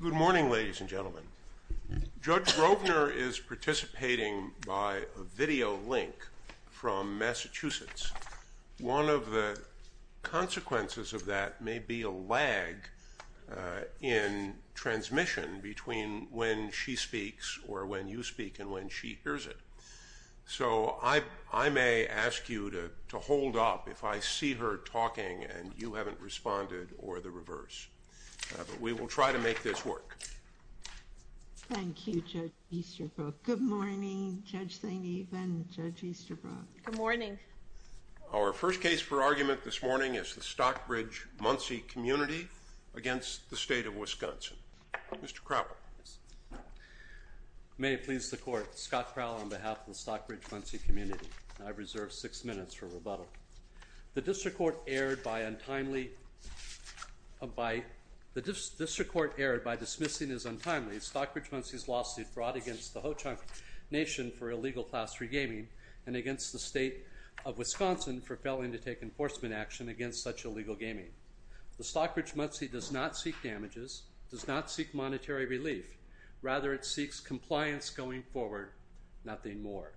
Good morning, ladies and gentlemen. Judge Grosvenor is participating by a video link from Massachusetts. One of the consequences of that may be a lag in transmission between when she speaks or when you speak and when she hears it. So I may ask you to hold up if I see her talking and you haven't responded or the reverse. But we will try to make this work. Thank you, Judge Easterbrook. Good morning, Judge St. Eve and Judge Easterbrook. Good morning. Our first case for argument this morning is the Stockbridge-Munsee Community against the State of Wisconsin. Mr. Crowl. May it please the Court. Scott Crowl on behalf of the Stockbridge-Munsee Community. I reserve six minutes for rebuttal. The District Court erred by dismissing as untimely Stockbridge-Munsee's lawsuit brought against the Ho-Chunk Nation for illegal class 3 gaming and against the State of Wisconsin for failing to take enforcement action against such illegal gaming. The Stockbridge-Munsee does not seek damages, does not seek monetary relief. Rather, it seeks compliance going forward, nothing more.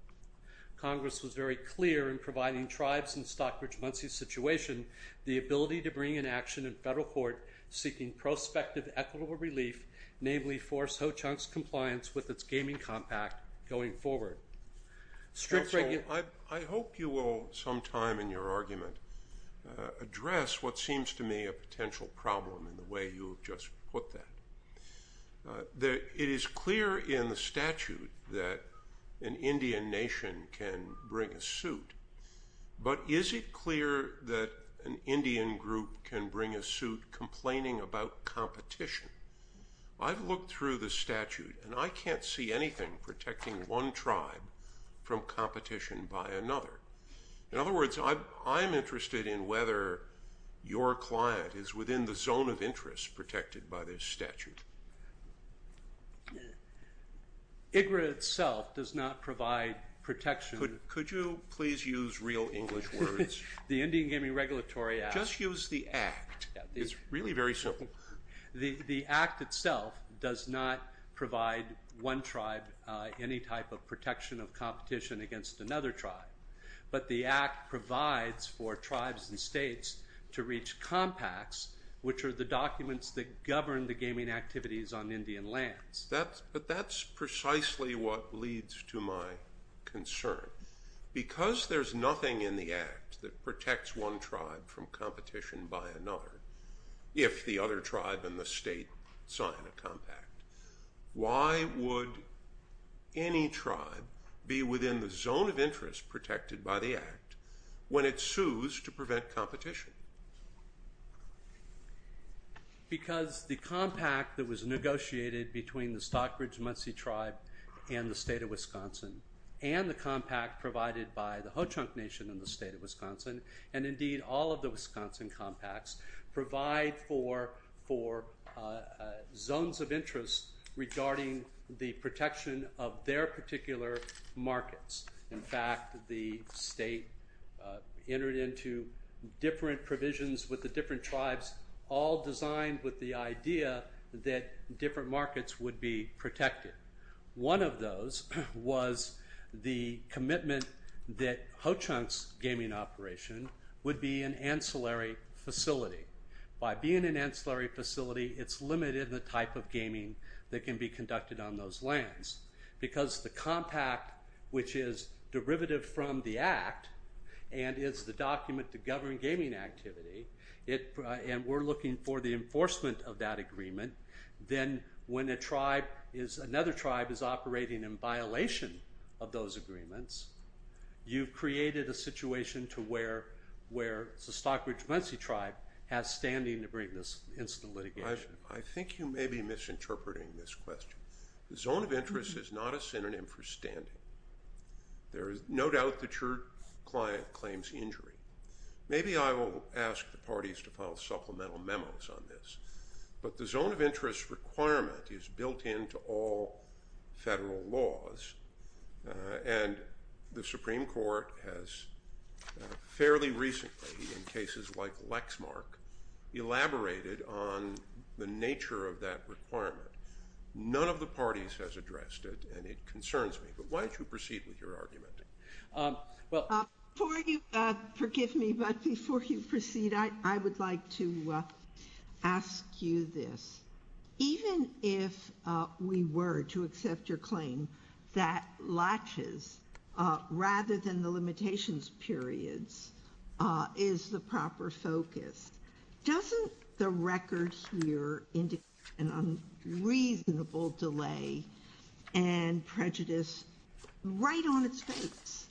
Congress was very clear in providing tribes in the Stockbridge-Munsee situation the ability to bring an action in federal court seeking prospective equitable relief, namely force Ho-Chunk's compliance with its gaming compact going forward. Counsel, I hope you will sometime in your argument address what seems to me a potential problem in the way you just put that. It is clear in the statute that an Indian nation can bring a suit, but is it clear that an Indian group can bring a suit complaining about competition? I've looked through the statute and I can't see anything protecting one tribe from competition by another. In other words, I'm interested in whether your client is within the zone of interest protected by this statute. IGRA itself does not provide protection. Could you please use real English words? The Indian Gaming Regulatory Act. Just use the Act. It's really very simple. The Act itself does not provide one tribe any type of protection of competition against another tribe, but the Act provides for tribes and states to reach compacts, which are the documents that govern the gaming activities on Indian lands. But that's precisely what leads to my concern. Because there's nothing in the Act that protects one tribe from competition by another, if the other tribe and the state sign a compact, why would any tribe be within the zone of interest protected by the Act when it sues to prevent competition? Because the compact that was negotiated between the Stockbridge-Munsee tribe and the state of Wisconsin and the compact provided by the Ho-Chunk Nation in the state of Wisconsin, and indeed all of the Wisconsin compacts, provide for zones of interest regarding the protection of their particular markets. In fact, the state entered into different provisions with the different tribes, all designed with the idea that different markets would be protected. One of those was the commitment that Ho-Chunk's gaming operation would be an ancillary facility. By being an ancillary facility, it's limited the type of gaming that can be conducted on those lands. Because the compact, which is derivative from the Act, and is the document to govern gaming activity, and we're looking for the enforcement of that agreement, then when another tribe is operating in violation of those agreements, you've created a situation to where the Stockbridge-Munsee tribe has standing to bring this instant litigation. I think you may be misinterpreting this question. The zone of interest is not a synonym for standing. There is no doubt that your client claims injury. Maybe I will ask the parties to file supplemental memos on this, but the zone of interest requirement is built into all federal laws, and the Supreme Court has fairly recently, in cases like Lexmark, elaborated on the nature of that requirement. None of the parties has addressed it, and it concerns me. But why don't you proceed with your argument? Before you proceed, I would like to ask you this. Even if we were to accept your claim that latches, rather than the limitations periods, is the proper focus, doesn't the record here indicate an unreasonable delay and prejudice right on its face?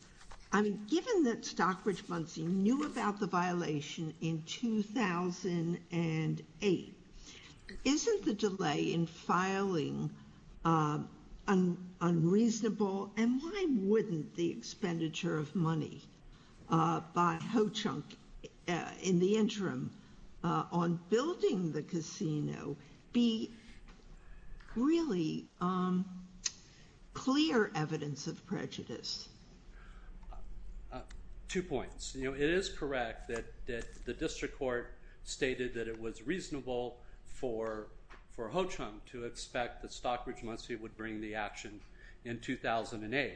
I mean, given that Stockbridge-Munsee knew about the violation in 2008, isn't the delay in filing unreasonable? And why wouldn't the expenditure of money by Ho-Chunk in the interim on building the casino be really clear evidence of prejudice? Two points. It is correct that the district court stated that it was reasonable for Ho-Chunk to expect that Stockbridge-Munsee would bring the action in 2008.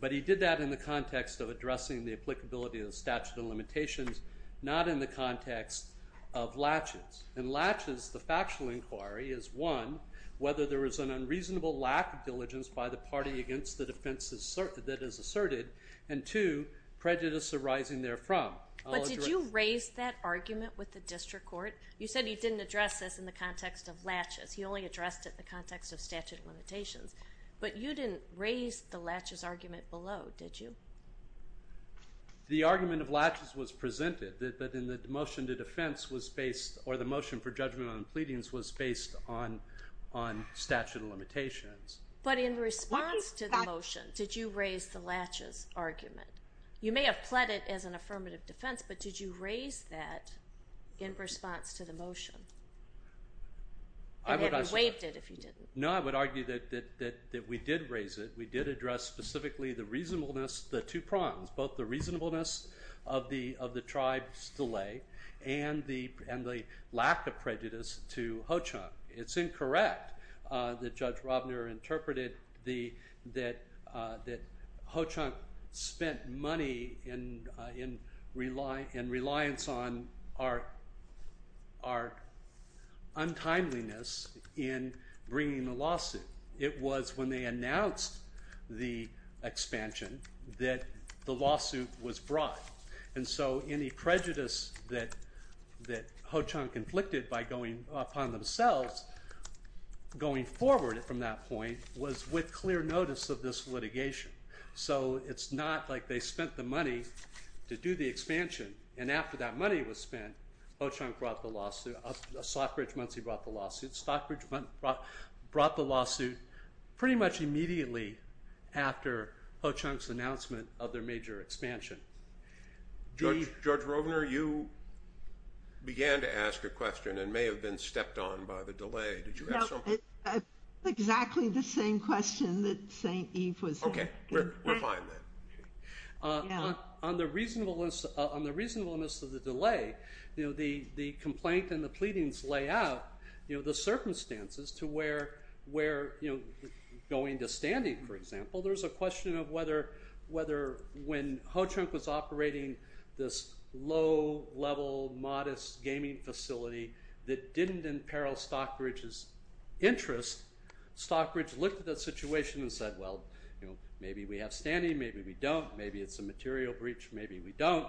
But he did that in the context of addressing the applicability of the statute of limitations, not in the context of latches. In latches, the factual inquiry is, one, whether there is an unreasonable lack of diligence by the party against the defense that is asserted, and two, prejudice arising therefrom. But did you raise that argument with the district court? You said he didn't address this in the context of latches. He only addressed it in the context of statute of limitations. But you didn't raise the latches argument below, did you? The argument of latches was presented, but in the motion to defense was based, or the motion for judgment on pleadings was based on statute of limitations. But in response to the motion, did you raise the latches argument? You may have pled it as an affirmative defense, but did you raise that in response to the motion? And have you waived it if you didn't? No, I would argue that we did raise it. We did address specifically the reasonableness, the two prongs, both the reasonableness of the tribe's delay and the lack of prejudice to Ho-Chunk. It's incorrect that Judge Robner interpreted that Ho-Chunk spent money in reliance on our untimeliness in bringing the lawsuit. It was when they announced the expansion that the lawsuit was brought. And so any prejudice that Ho-Chunk inflicted upon themselves going forward from that point was with clear notice of this litigation. So it's not like they spent the money to do the expansion. And after that money was spent, Ho-Chunk brought the lawsuit. Stockbridge-Munsee brought the lawsuit. Stockbridge-Munsee brought the lawsuit pretty much immediately after Ho-Chunk's announcement of their major expansion. Judge Robner, you began to ask a question and may have been stepped on by the delay. Did you have something? No, exactly the same question that St. Eve was asking. Okay, we're fine then. On the reasonableness of the delay, the complaint and the pleadings lay out the circumstances to where going to standing, for example, there's a question of whether when Ho-Chunk was operating this low-level, modest gaming facility that didn't imperil Stockbridge's interest, Stockbridge looked at the situation and said, well, maybe we have standing, maybe we don't. Maybe it's a material breach, maybe we don't.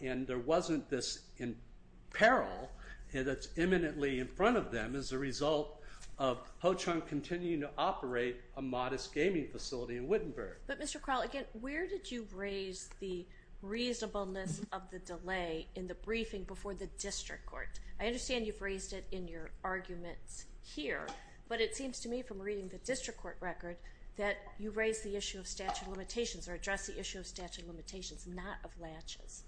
And there wasn't this imperil that's imminently in front of them as a result of Ho-Chunk continuing to operate a modest gaming facility in Wittenberg. But, Mr. Crowl, again, where did you raise the reasonableness of the delay in the briefing before the district court? I understand you've raised it in your arguments here, but it seems to me from reading the district court record that you raised the issue of statute of limitations or addressed the issue of statute of limitations, not of latches.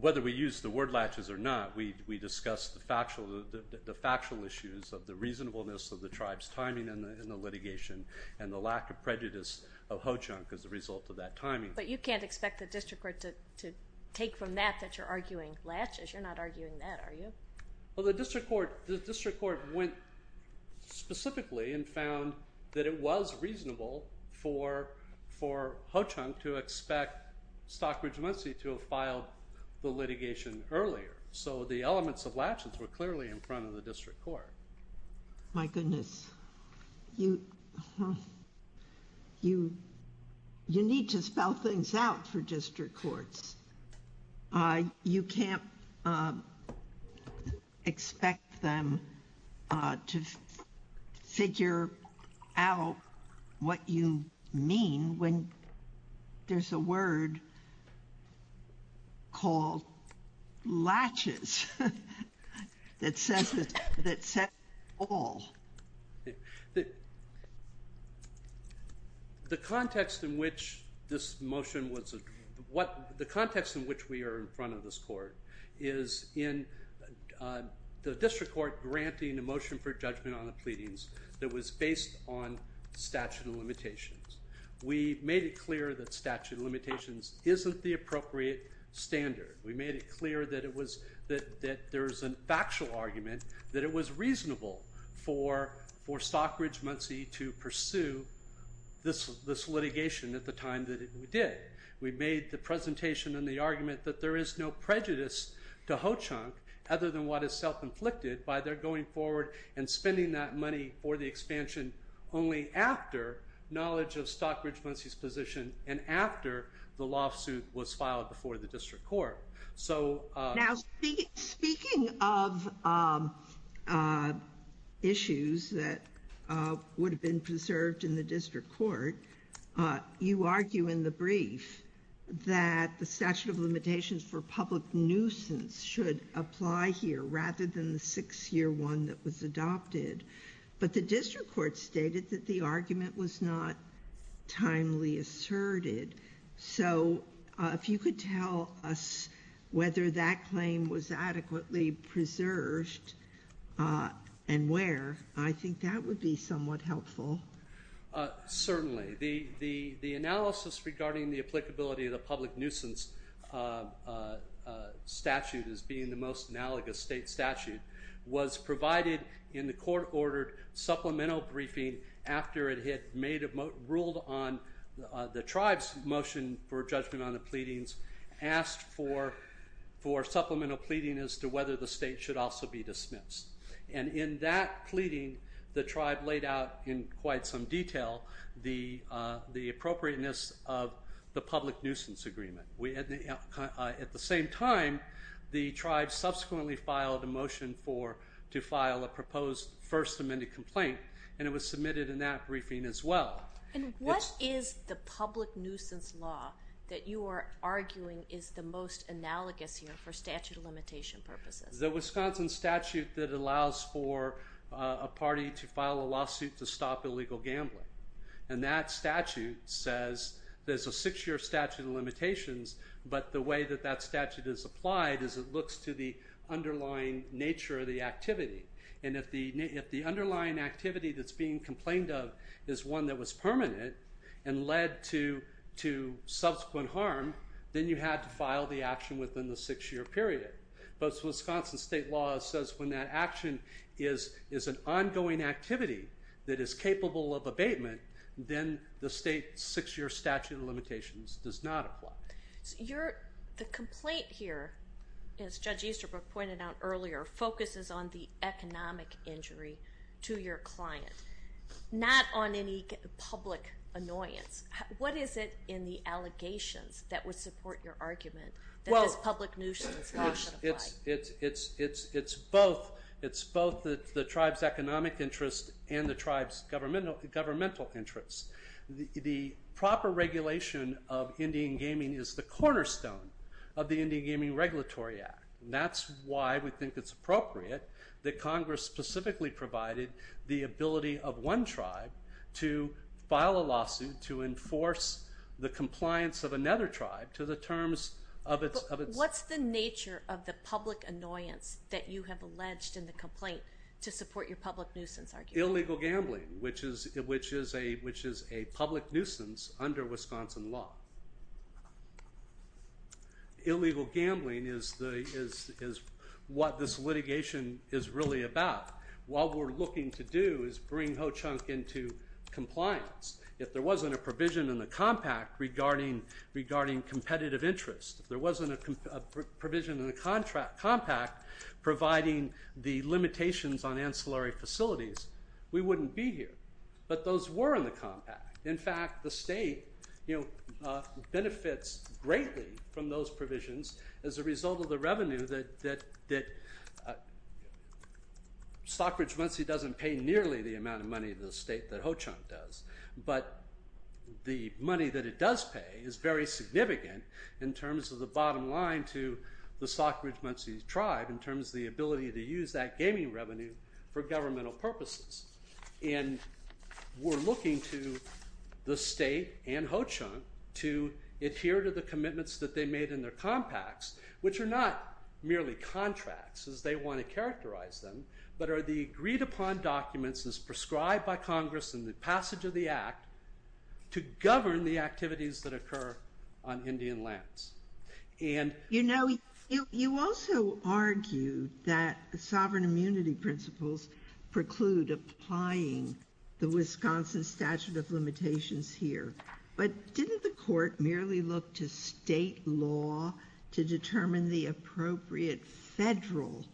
Whether we use the word latches or not, we discussed the factual issues of the reasonableness of the tribe's timing in the litigation and the lack of prejudice of Ho-Chunk as a result of that timing. But you can't expect the district court to take from that that you're arguing latches. You're not arguing that, are you? Well, the district court went specifically and found that it was reasonable for Ho-Chunk to expect Stockbridge Muncie to have filed the litigation earlier. So the elements of latches were clearly in front of the district court. My goodness. You need to spell things out for district courts. You can't expect them to figure out what you mean when there's a word called latches that says all. The context in which we are in front of this court is in the district court granting a motion for judgment on the pleadings that was based on statute of limitations. We made it clear that statute of limitations isn't the appropriate standard. We made it clear that there's a factual argument that it was reasonable for Stockbridge Muncie to pursue this litigation at the time that we did. We made the presentation and the argument that there is no prejudice to Ho-Chunk other than what is self-inflicted by their going forward and spending that money for the expansion only after knowledge of Stockbridge Muncie's position and after the lawsuit was filed before the district court. Now, speaking of issues that would have been preserved in the district court, you argue in the brief that the statute of limitations for public nuisance should apply here rather than the six-year one that was adopted. But the district court stated that the argument was not timely asserted. So if you could tell us whether that claim was adequately preserved and where, I think that would be somewhat helpful. Certainly. The analysis regarding the applicability of the public nuisance statute as being the most analogous state statute was provided in the court-ordered supplemental briefing after it had ruled on the tribe's motion for judgment on the pleadings, asked for supplemental pleading as to whether the state should also be dismissed. And in that pleading, the tribe laid out in quite some detail the appropriateness of the public nuisance agreement. At the same time, the tribe subsequently filed a motion to file a proposed First Amendment complaint, and it was submitted in that briefing as well. And what is the public nuisance law that you are arguing is the most analogous here for statute of limitation purposes? It's the Wisconsin statute that allows for a party to file a lawsuit to stop illegal gambling. And that statute says there's a six-year statute of limitations, but the way that that statute is applied is it looks to the underlying nature of the activity. And if the underlying activity that's being complained of is one that was permanent and led to subsequent harm, then you had to file the action within the six-year period. But Wisconsin state law says when that action is an ongoing activity that is capable of abatement, then the state's six-year statute of limitations does not apply. The complaint here, as Judge Easterbrook pointed out earlier, focuses on the economic injury to your client, not on any public annoyance. What is it in the allegations that would support your argument that this public nuisance law doesn't apply? It's both the tribe's economic interest and the tribe's governmental interest. The proper regulation of Indian gaming is the cornerstone of the Indian Gaming Regulatory Act, and that's why we think it's appropriate that Congress specifically provided the ability of one tribe to file a lawsuit to enforce the compliance of another tribe to the terms of its— But what's the nature of the public annoyance that you have alleged in the complaint to support your public nuisance argument? Illegal gambling, which is a public nuisance under Wisconsin law. Illegal gambling is what this litigation is really about. What we're looking to do is bring Ho-Chunk into compliance. If there wasn't a provision in the compact regarding competitive interest, if there wasn't a provision in the compact providing the limitations on ancillary facilities, we wouldn't be here. But those were in the compact. In fact, the state benefits greatly from those provisions as a result of the revenue that— But the money that it does pay is very significant in terms of the bottom line to the Stockbridge-Munsee tribe in terms of the ability to use that gaming revenue for governmental purposes. And we're looking to the state and Ho-Chunk to adhere to the commitments that they made in their compacts, which are not merely contracts as they want to characterize them, but are the agreed-upon documents as prescribed by Congress in the passage of the Act to govern the activities that occur on Indian lands. And— You know, you also argue that the sovereign immunity principles preclude applying the Wisconsin Statute of Limitations here. But didn't the Court merely look to state law to determine the appropriate federal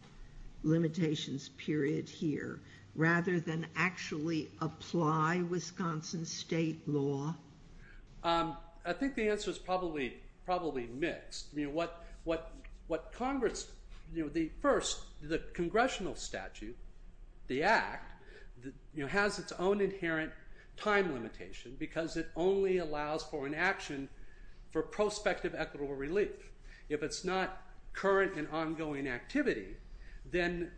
limitations period here rather than actually apply Wisconsin state law? I think the answer is probably mixed. What Congress—the first, the congressional statute, the Act, has its own inherent time limitation because it only allows for an action for prospective equitable relief. If it's not current and ongoing activity, then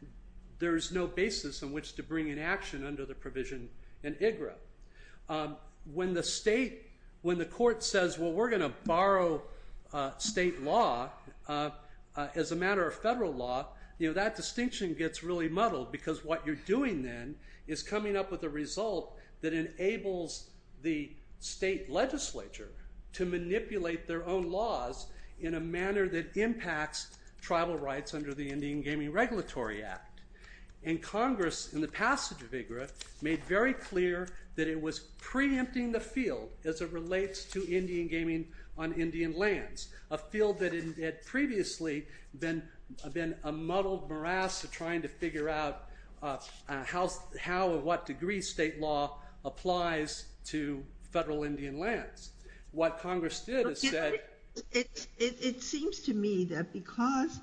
there's no basis in which to bring an action under the provision in IGRA. When the state—when the Court says, well, we're going to borrow state law as a matter of federal law, you know, that distinction gets really muddled because what you're doing then is coming up with a result that enables the state legislature to manipulate their own laws in a manner that impacts tribal rights under the Indian Gaming Regulatory Act. And Congress, in the passage of IGRA, made very clear that it was preempting the field as it relates to Indian gaming on Indian lands, a field that had previously been a muddled morass of trying to figure out how or what degree state law applies to federal Indian lands. What Congress did is said— It seems to me that because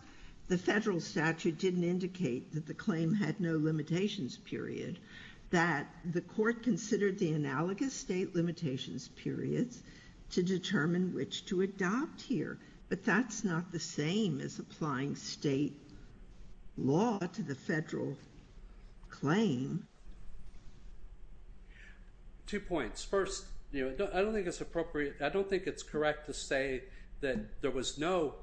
the federal statute didn't indicate that the claim had no limitations period, that the Court considered the analogous state limitations periods to determine which to adopt here. But that's not the same as applying state law to the federal claim. Two points. First, you know, I don't think it's appropriate— I don't think it's correct to say that there was no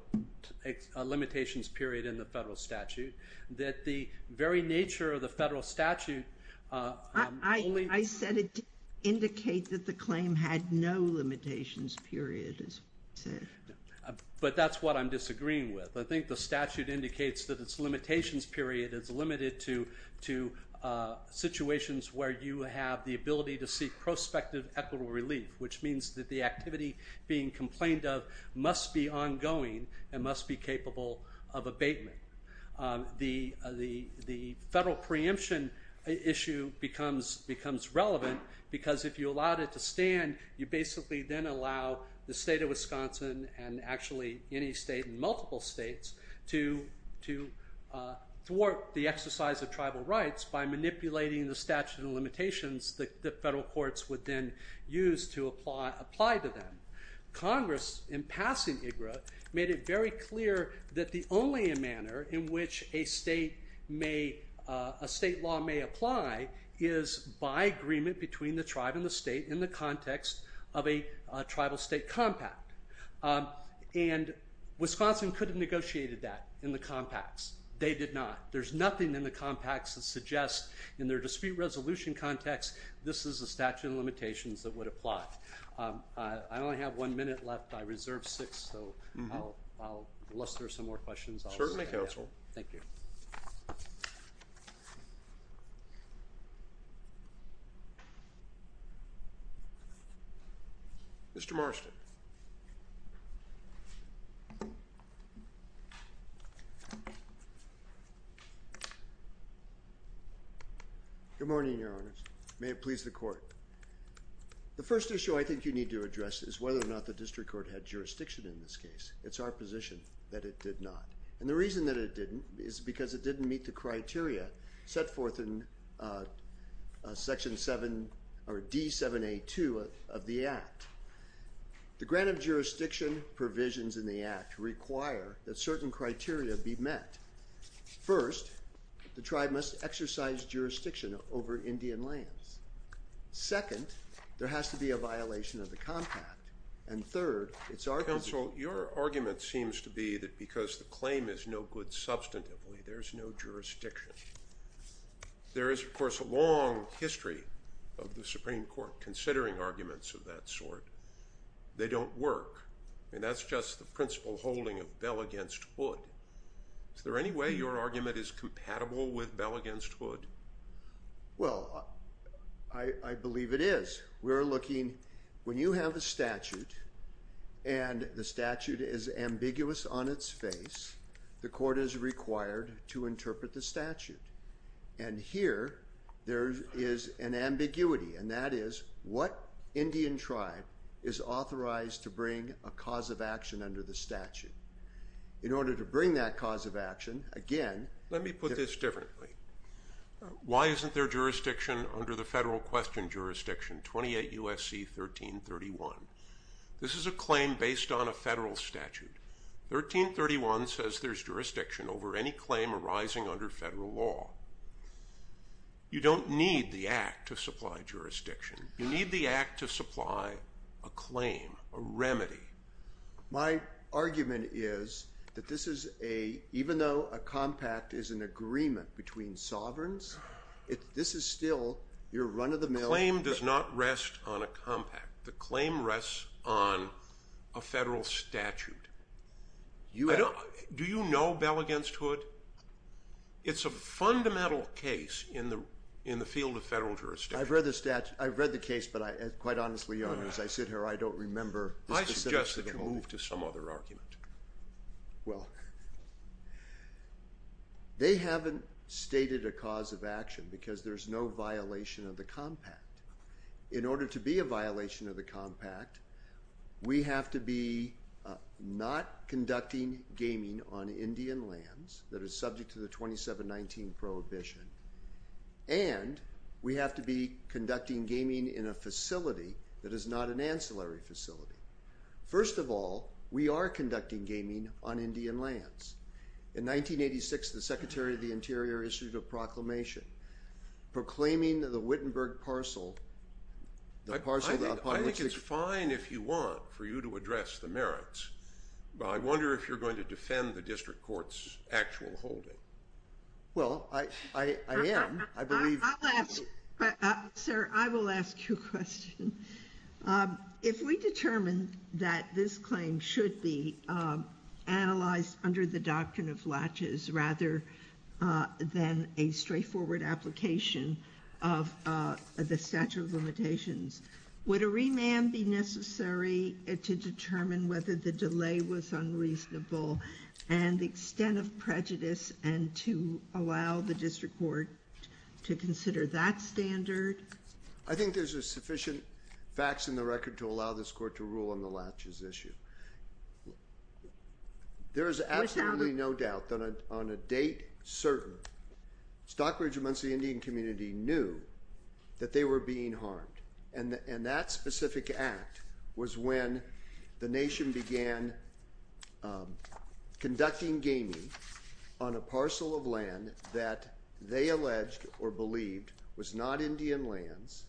limitations period in the federal statute, that the very nature of the federal statute— I said it didn't indicate that the claim had no limitations period, as you said. But that's what I'm disagreeing with. I think the statute indicates that its limitations period is limited to situations where you have the ability to seek prospective equitable relief, which means that the activity being complained of must be ongoing and must be capable of abatement. The federal preemption issue becomes relevant because if you allowed it to stand, you basically then allow the state of Wisconsin and actually any state and multiple states to thwart the exercise of tribal rights by manipulating the statute of limitations that the federal courts would then use to apply to them. Congress, in passing IGRA, made it very clear that the only manner in which a state may— a state law may apply is by agreement between the tribe and the state in the context of a tribal state compact. And Wisconsin could have negotiated that in the compacts. They did not. There's nothing in the compacts that suggests in their dispute resolution context this is a statute of limitations that would apply. I only have one minute left. I reserved six, so I'll luster some more questions. Certainly, counsel. Thank you. Mr. Marston. Good morning, Your Honors. May it please the Court. The first issue I think you need to address is whether or not the district court had jurisdiction in this case. It's our position that it did not. And the reason that it didn't is because it didn't meet the criteria set forth in Section 7 or D7A2 of the Act. The grant of jurisdiction provisions in the Act require that certain criteria be met. First, the tribe must exercise jurisdiction over Indian lands. Second, there has to be a violation of the compact. And third, it's our position— Counsel, your argument seems to be that because the claim is no good substantively, there's no jurisdiction. There is, of course, a long history of the Supreme Court considering arguments of that sort. They don't work. I mean, that's just the principle holding of bell against wood. Is there any way your argument is compatible with bell against wood? Well, I believe it is. We're looking—when you have a statute and the statute is ambiguous on its face, the court is required to interpret the statute. And here there is an ambiguity, and that is what Indian tribe is authorized to bring a cause of action under the statute? In order to bring that cause of action, again— Let me put this differently. Why isn't there jurisdiction under the federal question jurisdiction, 28 U.S.C. 1331? This is a claim based on a federal statute. 1331 says there's jurisdiction over any claim arising under federal law. You don't need the Act to supply jurisdiction. You need the Act to supply a claim, a remedy. My argument is that this is a—even though a compact is an agreement between sovereigns, this is still your run-of-the-mill— The claim does not rest on a compact. The claim rests on a federal statute. Do you know bell against wood? It's a fundamental case in the field of federal jurisdiction. I've read the case, but quite honestly, Your Honor, as I sit here, I don't remember the specifics. I suggest that you move to some other argument. Well, they haven't stated a cause of action because there's no violation of the compact. In order to be a violation of the compact, we have to be not conducting gaming on Indian lands that are subject to the 2719 prohibition, and we have to be conducting gaming in a facility that is not an ancillary facility. First of all, we are conducting gaming on Indian lands. In 1986, the Secretary of the Interior issued a proclamation proclaiming the Wittenberg parcel, the parcel that— I think it's fine if you want for you to address the merits, but I wonder if you're going to defend the district court's actual holding. Well, I am. I believe— Sir, I will ask you a question. If we determine that this claim should be analyzed under the doctrine of latches rather than a straightforward application of the statute of limitations, would a remand be necessary to determine whether the delay was unreasonable and the extent of prejudice and to allow the district court to consider that standard? I think there's sufficient facts in the record to allow this court to rule on the latches issue. There is absolutely no doubt that on a date certain, Stockbridge, amongst the Indian community, knew that they were being harmed and that specific act was when the nation began conducting gaming on a parcel of land that they alleged or believed was not Indian lands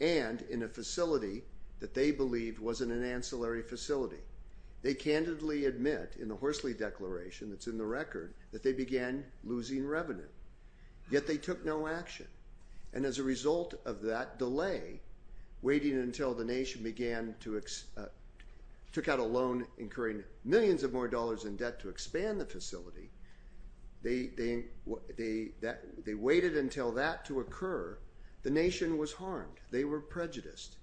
and in a facility that they believed wasn't an ancillary facility. They candidly admit in the Horsley Declaration that's in the record that they began losing revenue, yet they took no action. And as a result of that delay, waiting until the nation began to—took out a loan incurring millions of more dollars in debt to expand the facility, they waited until that to occur. The nation was harmed. They were prejudiced.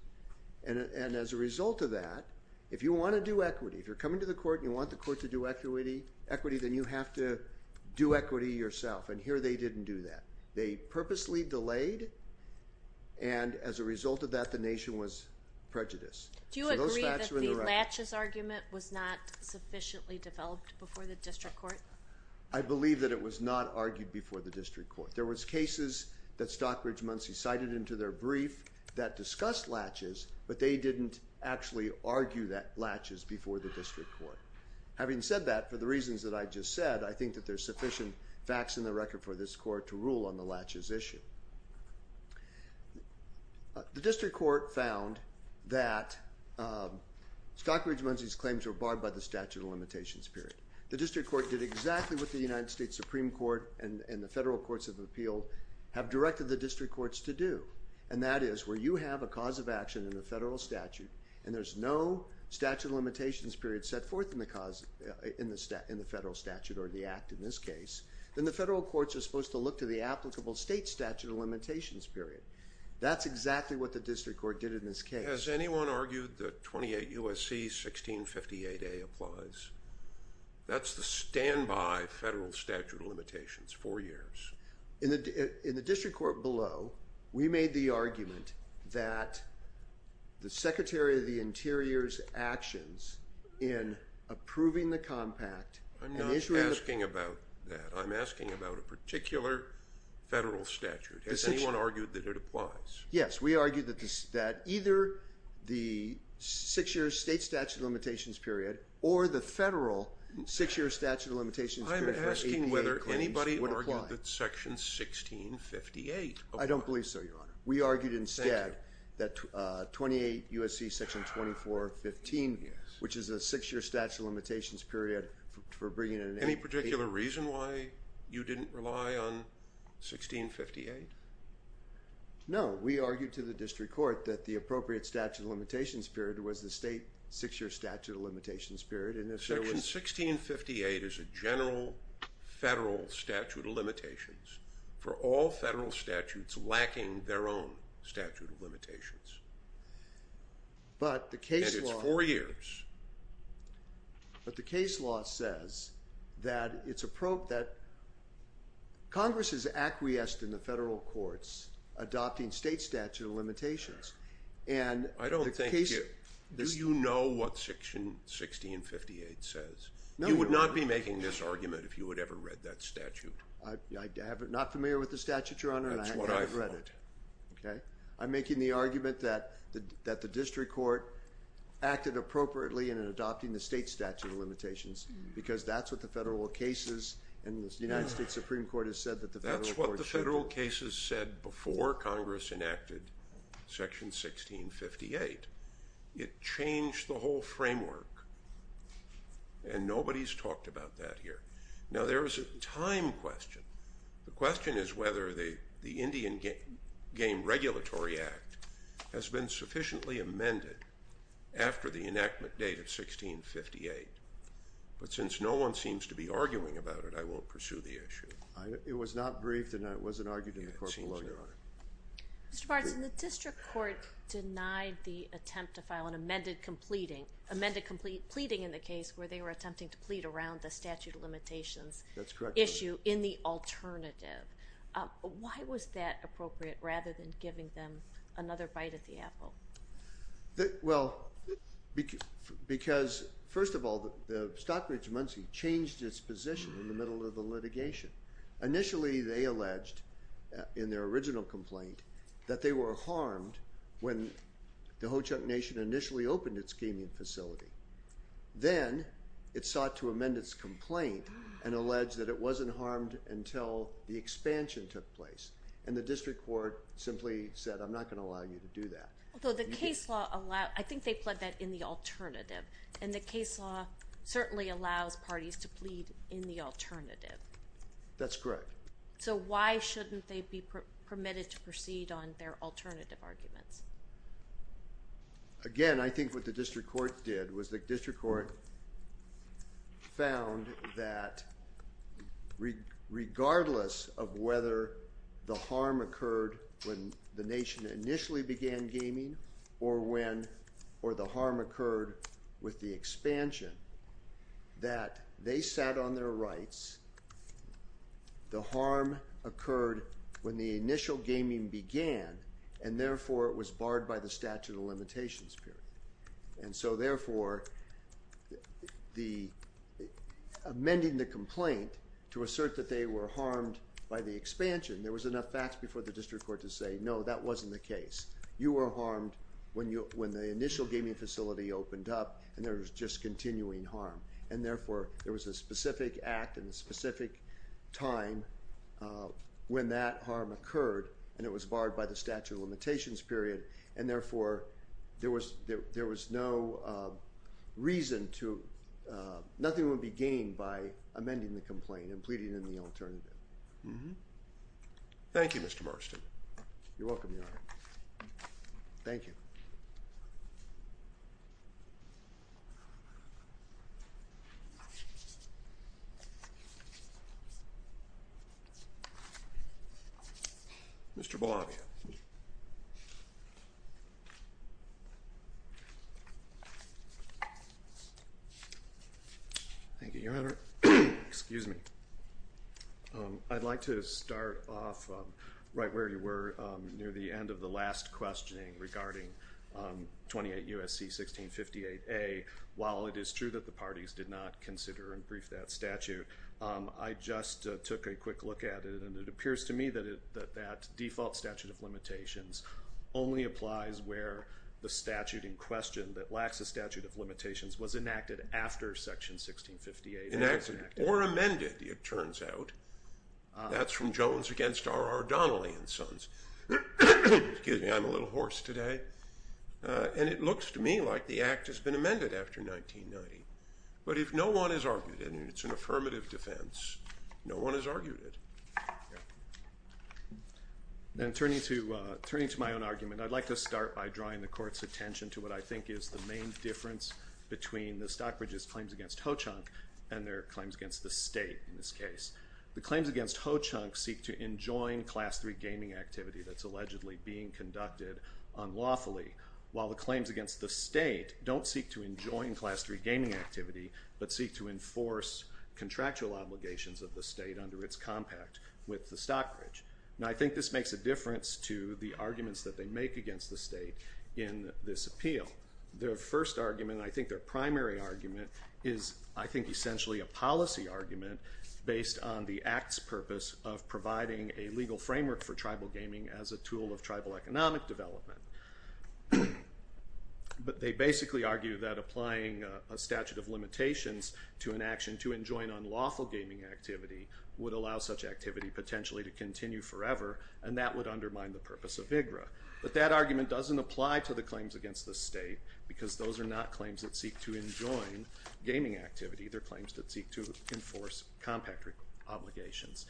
And as a result of that, if you want to do equity, if you're coming to the court and you want the court to do equity, then you have to do equity yourself. And here they didn't do that. They purposely delayed, and as a result of that, the nation was prejudiced. Do you agree that the latches argument was not sufficiently developed before the district court? I believe that it was not argued before the district court. There was cases that Stockbridge-Munsee cited into their brief that discussed latches, but they didn't actually argue that latches before the district court. Having said that, for the reasons that I just said, I think that there's sufficient facts in the record for this court to rule on the latches issue. The district court found that Stockbridge-Munsee's claims were barred by the statute of limitations period. The district court did exactly what the United States Supreme Court and the federal courts of appeal have directed the district courts to do, and that is where you have a cause of action in the federal statute and there's no statute of limitations period set forth in the federal statute or the act in this case, then the federal courts are supposed to look to the applicable state statute of limitations period. That's exactly what the district court did in this case. Has anyone argued that 28 U.S.C. 1658A applies? That's the standby federal statute of limitations, four years. In the district court below, we made the argument that the Secretary of the Interior's actions in approving the compact and issuing the… I'm not asking about that. I'm asking about a particular federal statute. Has anyone argued that it applies? Yes, we argued that either the six-year state statute of limitations period or the federal six-year statute of limitations period for ADA claims would apply. I don't believe so, Your Honor. Thank you. We argued instead that 28 U.S.C. section 2415, which is a six-year statute of limitations period for bringing an ADA… Any particular reason why you didn't rely on 1658? No, we argued to the district court that the appropriate statute of limitations period was the state six-year statute of limitations period and if there was… 1658 is a general federal statute of limitations for all federal statutes lacking their own statute of limitations. But the case law… And it's four years. But the case law says that it's a probe that Congress has acquiesced in the federal courts adopting state statute of limitations and the case… You would not be making this argument if you had ever read that statute. I'm not familiar with the statute, Your Honor, and I haven't read it. That's what I thought. Okay. I'm making the argument that the district court acted appropriately in adopting the state statute of limitations because that's what the federal cases and the United States Supreme Court has said that the federal courts… And nobody's talked about that here. Now, there is a time question. The question is whether the Indian Game Regulatory Act has been sufficiently amended after the enactment date of 1658. But since no one seems to be arguing about it, I won't pursue the issue. It was not briefed and it wasn't argued in the court below, Your Honor. Mr. Bartson, the district court denied the attempt to file an amended pleading in the case where they were attempting to plead around the statute of limitations… That's correct, Your Honor. …issue in the alternative. Why was that appropriate rather than giving them another bite at the apple? Well, because, first of all, the Stockbridge-Munsee changed its position in the middle of the litigation. Initially, they alleged in their original complaint that they were harmed when the Ho-Chunk Nation initially opened its gaming facility. Then it sought to amend its complaint and alleged that it wasn't harmed until the expansion took place. And the district court simply said, I'm not going to allow you to do that. I think they pled that in the alternative, and the case law certainly allows parties to plead in the alternative. That's correct. So why shouldn't they be permitted to proceed on their alternative arguments? Again, I think what the district court did was the district court found that regardless of whether the harm occurred when the Nation initially began gaming or the harm occurred with the expansion, that they sat on their rights, the harm occurred when the initial gaming began, and therefore it was barred by the statute of limitations period. And so, therefore, amending the complaint to assert that they were harmed by the expansion, there was enough facts before the district court to say, no, that wasn't the case. You were harmed when the initial gaming facility opened up, and there was just continuing harm. And, therefore, there was a specific act and a specific time when that harm occurred, and it was barred by the statute of limitations period. And, therefore, there was no reason to—nothing would be gained by amending the complaint and pleading in the alternative. Thank you, Mr. Marston. You're welcome, Your Honor. Thank you. Mr. Bolavia. Thank you, Your Honor. Excuse me. I'd like to start off right where you were near the end of the last questioning regarding 28 U.S.C. 1658A. While it is true that the parties did not consider and brief that statute, I just took a quick look at it, and it appears to me that that default statute of limitations only applies where the statute in question that lacks a statute of limitations was enacted after Section 1658. Enacted or amended, it turns out. That's from Jones against R.R. Donnelly and Sons. Excuse me. I'm a little hoarse today. And it looks to me like the act has been amended after 1990. But if no one has argued it, and it's an affirmative defense, no one has argued it. Then turning to my own argument, I'd like to start by drawing the Court's attention to what I think is the main difference between the Stockbridge's claims against Ho-Chunk and their claims against the State in this case. The claims against Ho-Chunk seek to enjoin Class III gaming activity that's allegedly being conducted unlawfully, while the claims against the State don't seek to enjoin Class III gaming activity, but seek to enforce contractual obligations of the State under its compact with the Stockbridge. Now, I think this makes a difference to the arguments that they make against the State in this appeal. Their first argument, and I think their primary argument, is I think essentially a policy argument based on the act's purpose of providing a legal framework for tribal gaming as a tool of tribal economic development. But they basically argue that applying a statute of limitations to an action to enjoin unlawful gaming activity would allow such activity potentially to continue forever, and that would undermine the purpose of VIGRA. But that argument doesn't apply to the claims against the State, because those are not claims that seek to enjoin gaming activity. They're claims that seek to enforce compact obligations.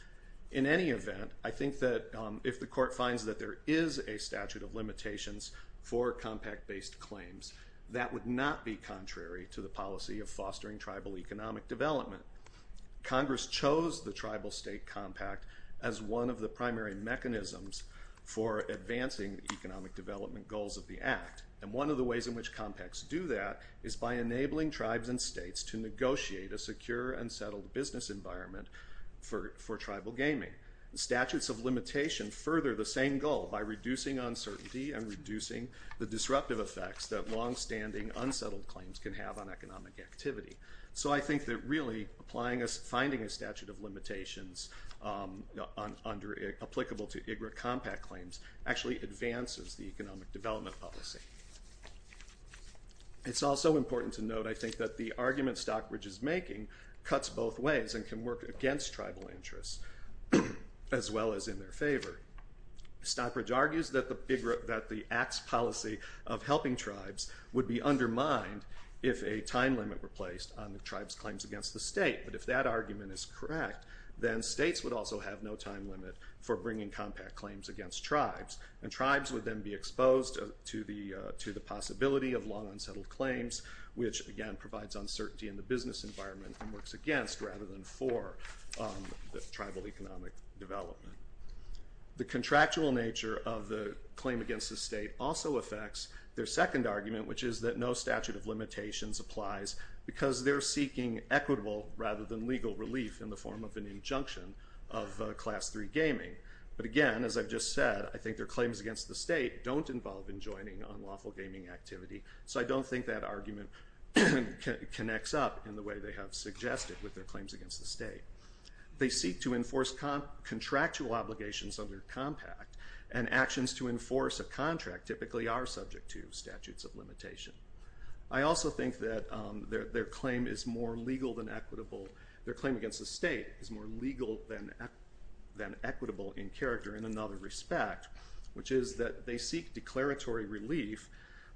In any event, I think that if the Court finds that there is a statute of limitations for compact-based claims, that would not be contrary to the policy of fostering tribal economic development. Congress chose the Tribal-State Compact as one of the primary mechanisms for advancing the economic development goals of the act, and one of the ways in which compacts do that is by enabling tribes and states to negotiate a secure and settled business environment for tribal gaming. Statutes of limitation further the same goal by reducing uncertainty and reducing the disruptive effects that long-standing, unsettled claims can have on economic activity. So I think that really, finding a statute of limitations applicable to VIGRA compact claims actually advances the economic development policy. It's also important to note, I think, that the argument Stockbridge is making cuts both ways and can work against tribal interests as well as in their favor. Stockbridge argues that the act's policy of helping tribes would be undermined if a time limit were placed on the tribe's claims against the State, but if that argument is correct, then states would also have no time limit for bringing compact claims against tribes, and tribes would then be exposed to the possibility of long, unsettled claims, which again provides uncertainty in the business environment and works against rather than for the tribal economic development. The contractual nature of the claim against the State also affects their second argument, which is that no statute of limitations applies because they're seeking equitable rather than legal relief in the form of an injunction of Class III gaming, but again, as I've just said, I think their claims against the State don't involve enjoining unlawful gaming activity, so I don't think that argument connects up in the way they have suggested with their claims against the State. They seek to enforce contractual obligations under compact, and actions to enforce a contract typically are subject to statutes of limitation. I also think that their claim against the State is more legal than equitable in character in another respect, which is that they seek declaratory relief,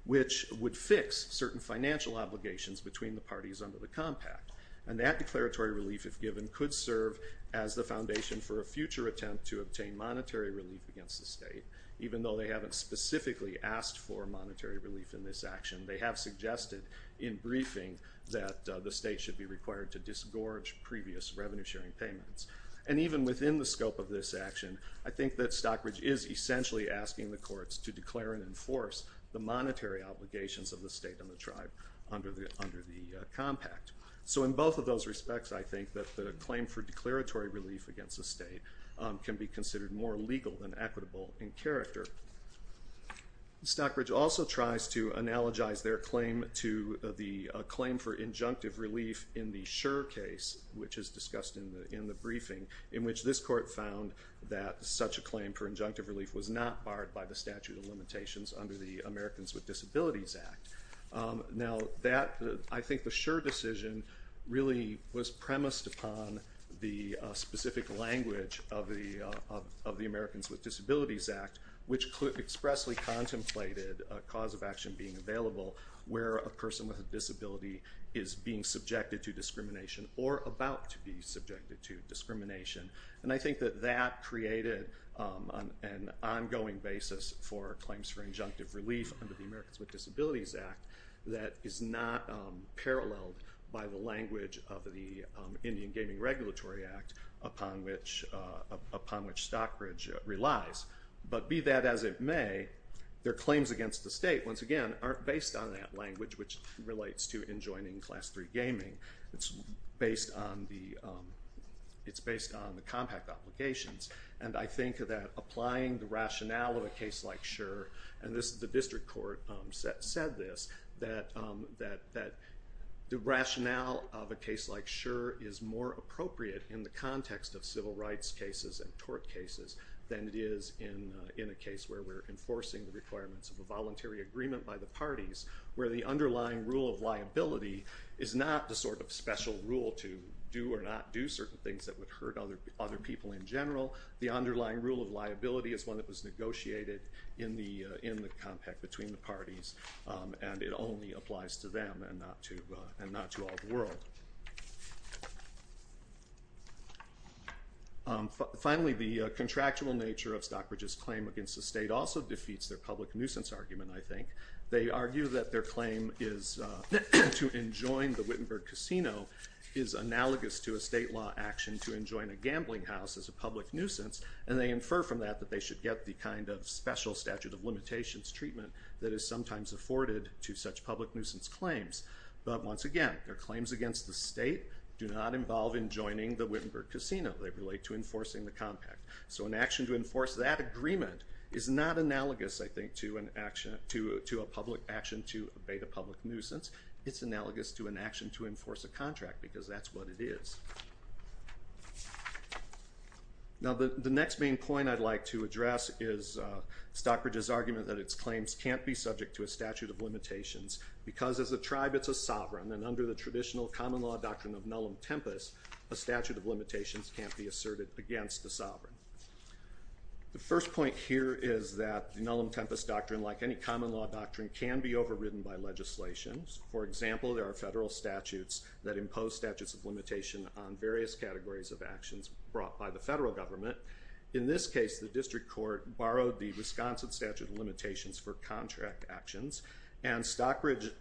which would fix certain financial obligations between the parties under the compact, and that declaratory relief, if given, could serve as the foundation for a future attempt to obtain monetary relief against the State, even though they haven't specifically asked for monetary relief in this action. They have suggested in briefing that the State should be required to disgorge previous revenue-sharing payments. And even within the scope of this action, I think that Stockbridge is essentially asking the courts to declare and enforce the monetary obligations of the State and the tribe under the compact. So in both of those respects, I think that the claim for declaratory relief against the State can be considered more legal than equitable in character. Stockbridge also tries to analogize their claim to the claim for injunctive relief in the Schur case, which is discussed in the briefing, in which this court found that such a claim for injunctive relief was not barred by the statute of limitations under the Americans with Disabilities Act. Now, I think the Schur decision really was premised upon the specific language of the Americans with Disabilities Act, which expressly contemplated a cause of action being available where a person with a disability is being subjected to discrimination or about to be subjected to discrimination. And I think that that created an ongoing basis for claims for injunctive relief under the Americans with Disabilities Act that is not paralleled by the language of the Indian Gaming Regulatory Act upon which Stockbridge relies. But be that as it may, their claims against the State, once again, aren't based on that language, which relates to enjoining Class III gaming. It's based on the compact obligations. And I think that applying the rationale of a case like Schur, and the district court said this, that the rationale of a case like Schur is more appropriate in the context of civil rights cases and tort cases than it is in a case where we're enforcing the requirements of a voluntary agreement by the parties where the underlying rule of liability is not the sort of special rule to do or not do certain things that would hurt other people in general. The underlying rule of liability is one that was negotiated in the compact between the parties, and it only applies to them and not to all the world. Finally, the contractual nature of Stockbridge's claim against the State also defeats their public nuisance argument, I think. They argue that their claim to enjoin the Wittenberg Casino is analogous to a state law action to enjoin a gambling house as a public nuisance, and they infer from that that they should get the kind of special statute of limitations treatment that is sometimes afforded to such public nuisance claims. But once again, their claims against the State do not involve enjoining the Wittenberg Casino. They relate to enforcing the compact. So an action to enforce that agreement is not analogous, I think, to a public action to abate a public nuisance. It's analogous to an action to enforce a contract, because that's what it is. Now the next main point I'd like to address is Stockbridge's argument that its claims can't be subject to a statute of limitations, because as a tribe it's a sovereign, and under the traditional common law doctrine of nullum tempus, a statute of limitations can't be asserted against the sovereign. The first point here is that the nullum tempus doctrine, like any common law doctrine, can be overridden by legislation. For example, there are federal statutes that impose statutes of limitations on various categories of actions brought by the federal government. In this case, the district court borrowed the Wisconsin statute of limitations for contract actions, and Stockbridge,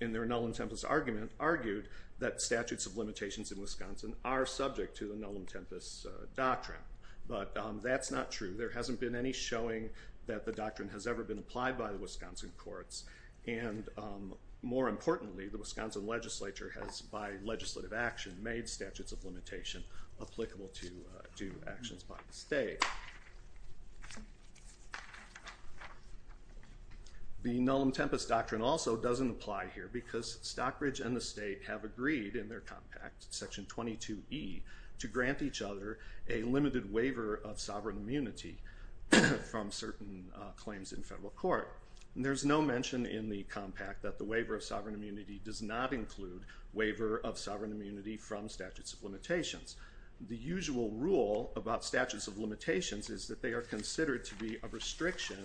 in their nullum tempus argument, argued that statutes of limitations in Wisconsin are subject to the nullum tempus doctrine, but that's not true. There hasn't been any showing that the doctrine has ever been applied by the Wisconsin courts, and more importantly, the Wisconsin legislature has, by legislative action, made statutes of limitation applicable to actions by the state. The nullum tempus doctrine also doesn't apply here, because Stockbridge and the state have agreed in their compact, section 22E, to grant each other a limited waiver of sovereign immunity from certain claims in federal court. There's no mention in the compact that the waiver of sovereign immunity does not include waiver of sovereign immunity from statutes of limitations. The usual rule about statutes of limitations is that they are considered to be a restriction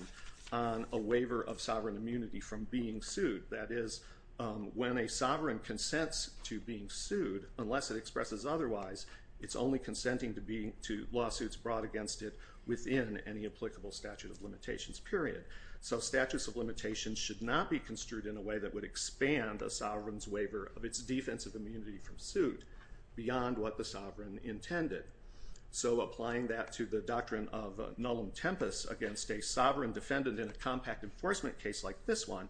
on a waiver of sovereign immunity from being sued. That is, when a sovereign consents to being sued, unless it expresses otherwise, it's only consenting to lawsuits brought against it within any applicable statute of limitations, period. So statutes of limitations should not be construed in a way that would expand a sovereign's waiver of its defensive immunity from suit beyond what the sovereign intended. So applying that to the doctrine of nullum tempus against a sovereign defendant in a compact enforcement case like this one,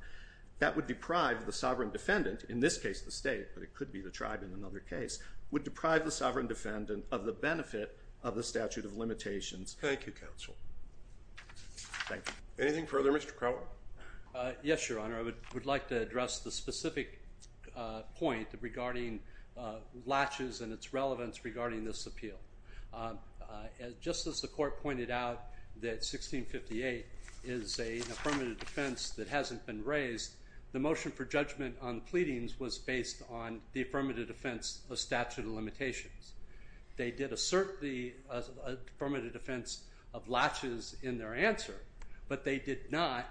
that would deprive the sovereign defendant, in this case the state, but it could be the tribe in another case, would deprive the sovereign defendant of the benefit of the statute of limitations. Thank you, counsel. Thank you. Anything further, Mr. Crowell? Yes, Your Honor. I would like to address the specific point regarding latches and its relevance regarding this appeal. Just as the court pointed out that 1658 is an affirmative defense that hasn't been raised, the motion for judgment on the pleadings was based on the affirmative defense of statute of limitations. They did assert the affirmative defense of latches in their answer, but they did not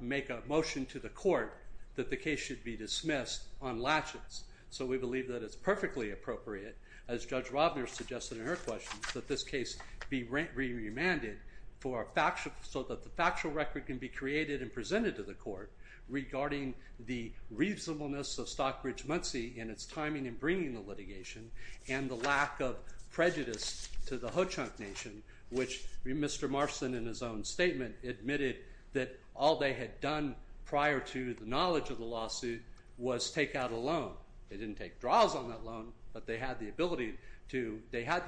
make a motion to the court that the case should be dismissed on latches. So we believe that it's perfectly appropriate, as Judge Robner suggested in her question, that this case be remanded so that the factual record can be created and presented to the court regarding the reasonableness of Stockbridge-Munsee in its timing in bringing the litigation and the lack of prejudice to the Ho-Chunk Nation, which Mr. Marston, in his own statement, admitted that all they had done prior to the knowledge of the lawsuit was take out a loan. They didn't take draws on that loan, but they had the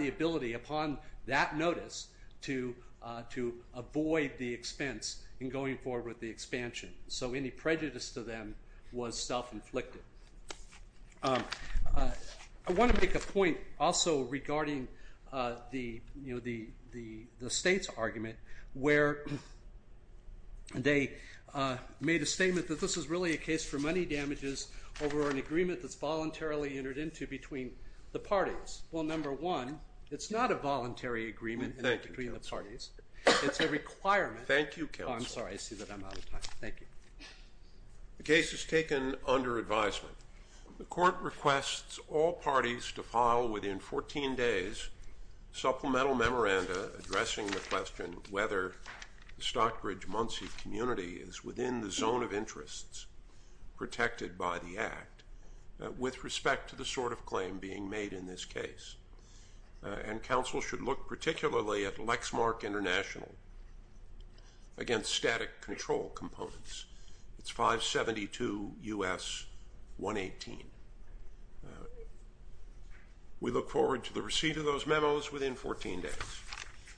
ability upon that notice to avoid the expense in going forward with the expansion. So any prejudice to them was self-inflicted. I want to make a point also regarding the state's argument, where they made a statement that this is really a case for money damages over an agreement that's voluntarily entered into between the parties. Well, number one, it's not a voluntary agreement between the parties. Thank you, counsel. It's a requirement. Thank you, counsel. Oh, I'm sorry. I see that I'm out of time. Thank you. The case is taken under advisement. The court requests all parties to file within 14 days supplemental memoranda addressing the question whether the Stockbridge-Munsee community is within the zone of interests protected by the act with respect to the sort of claim being made in this case. And counsel should look particularly at Lexmark International against static control components. It's 572 U.S. 118. We look forward to the receipt of those memos within 14 days.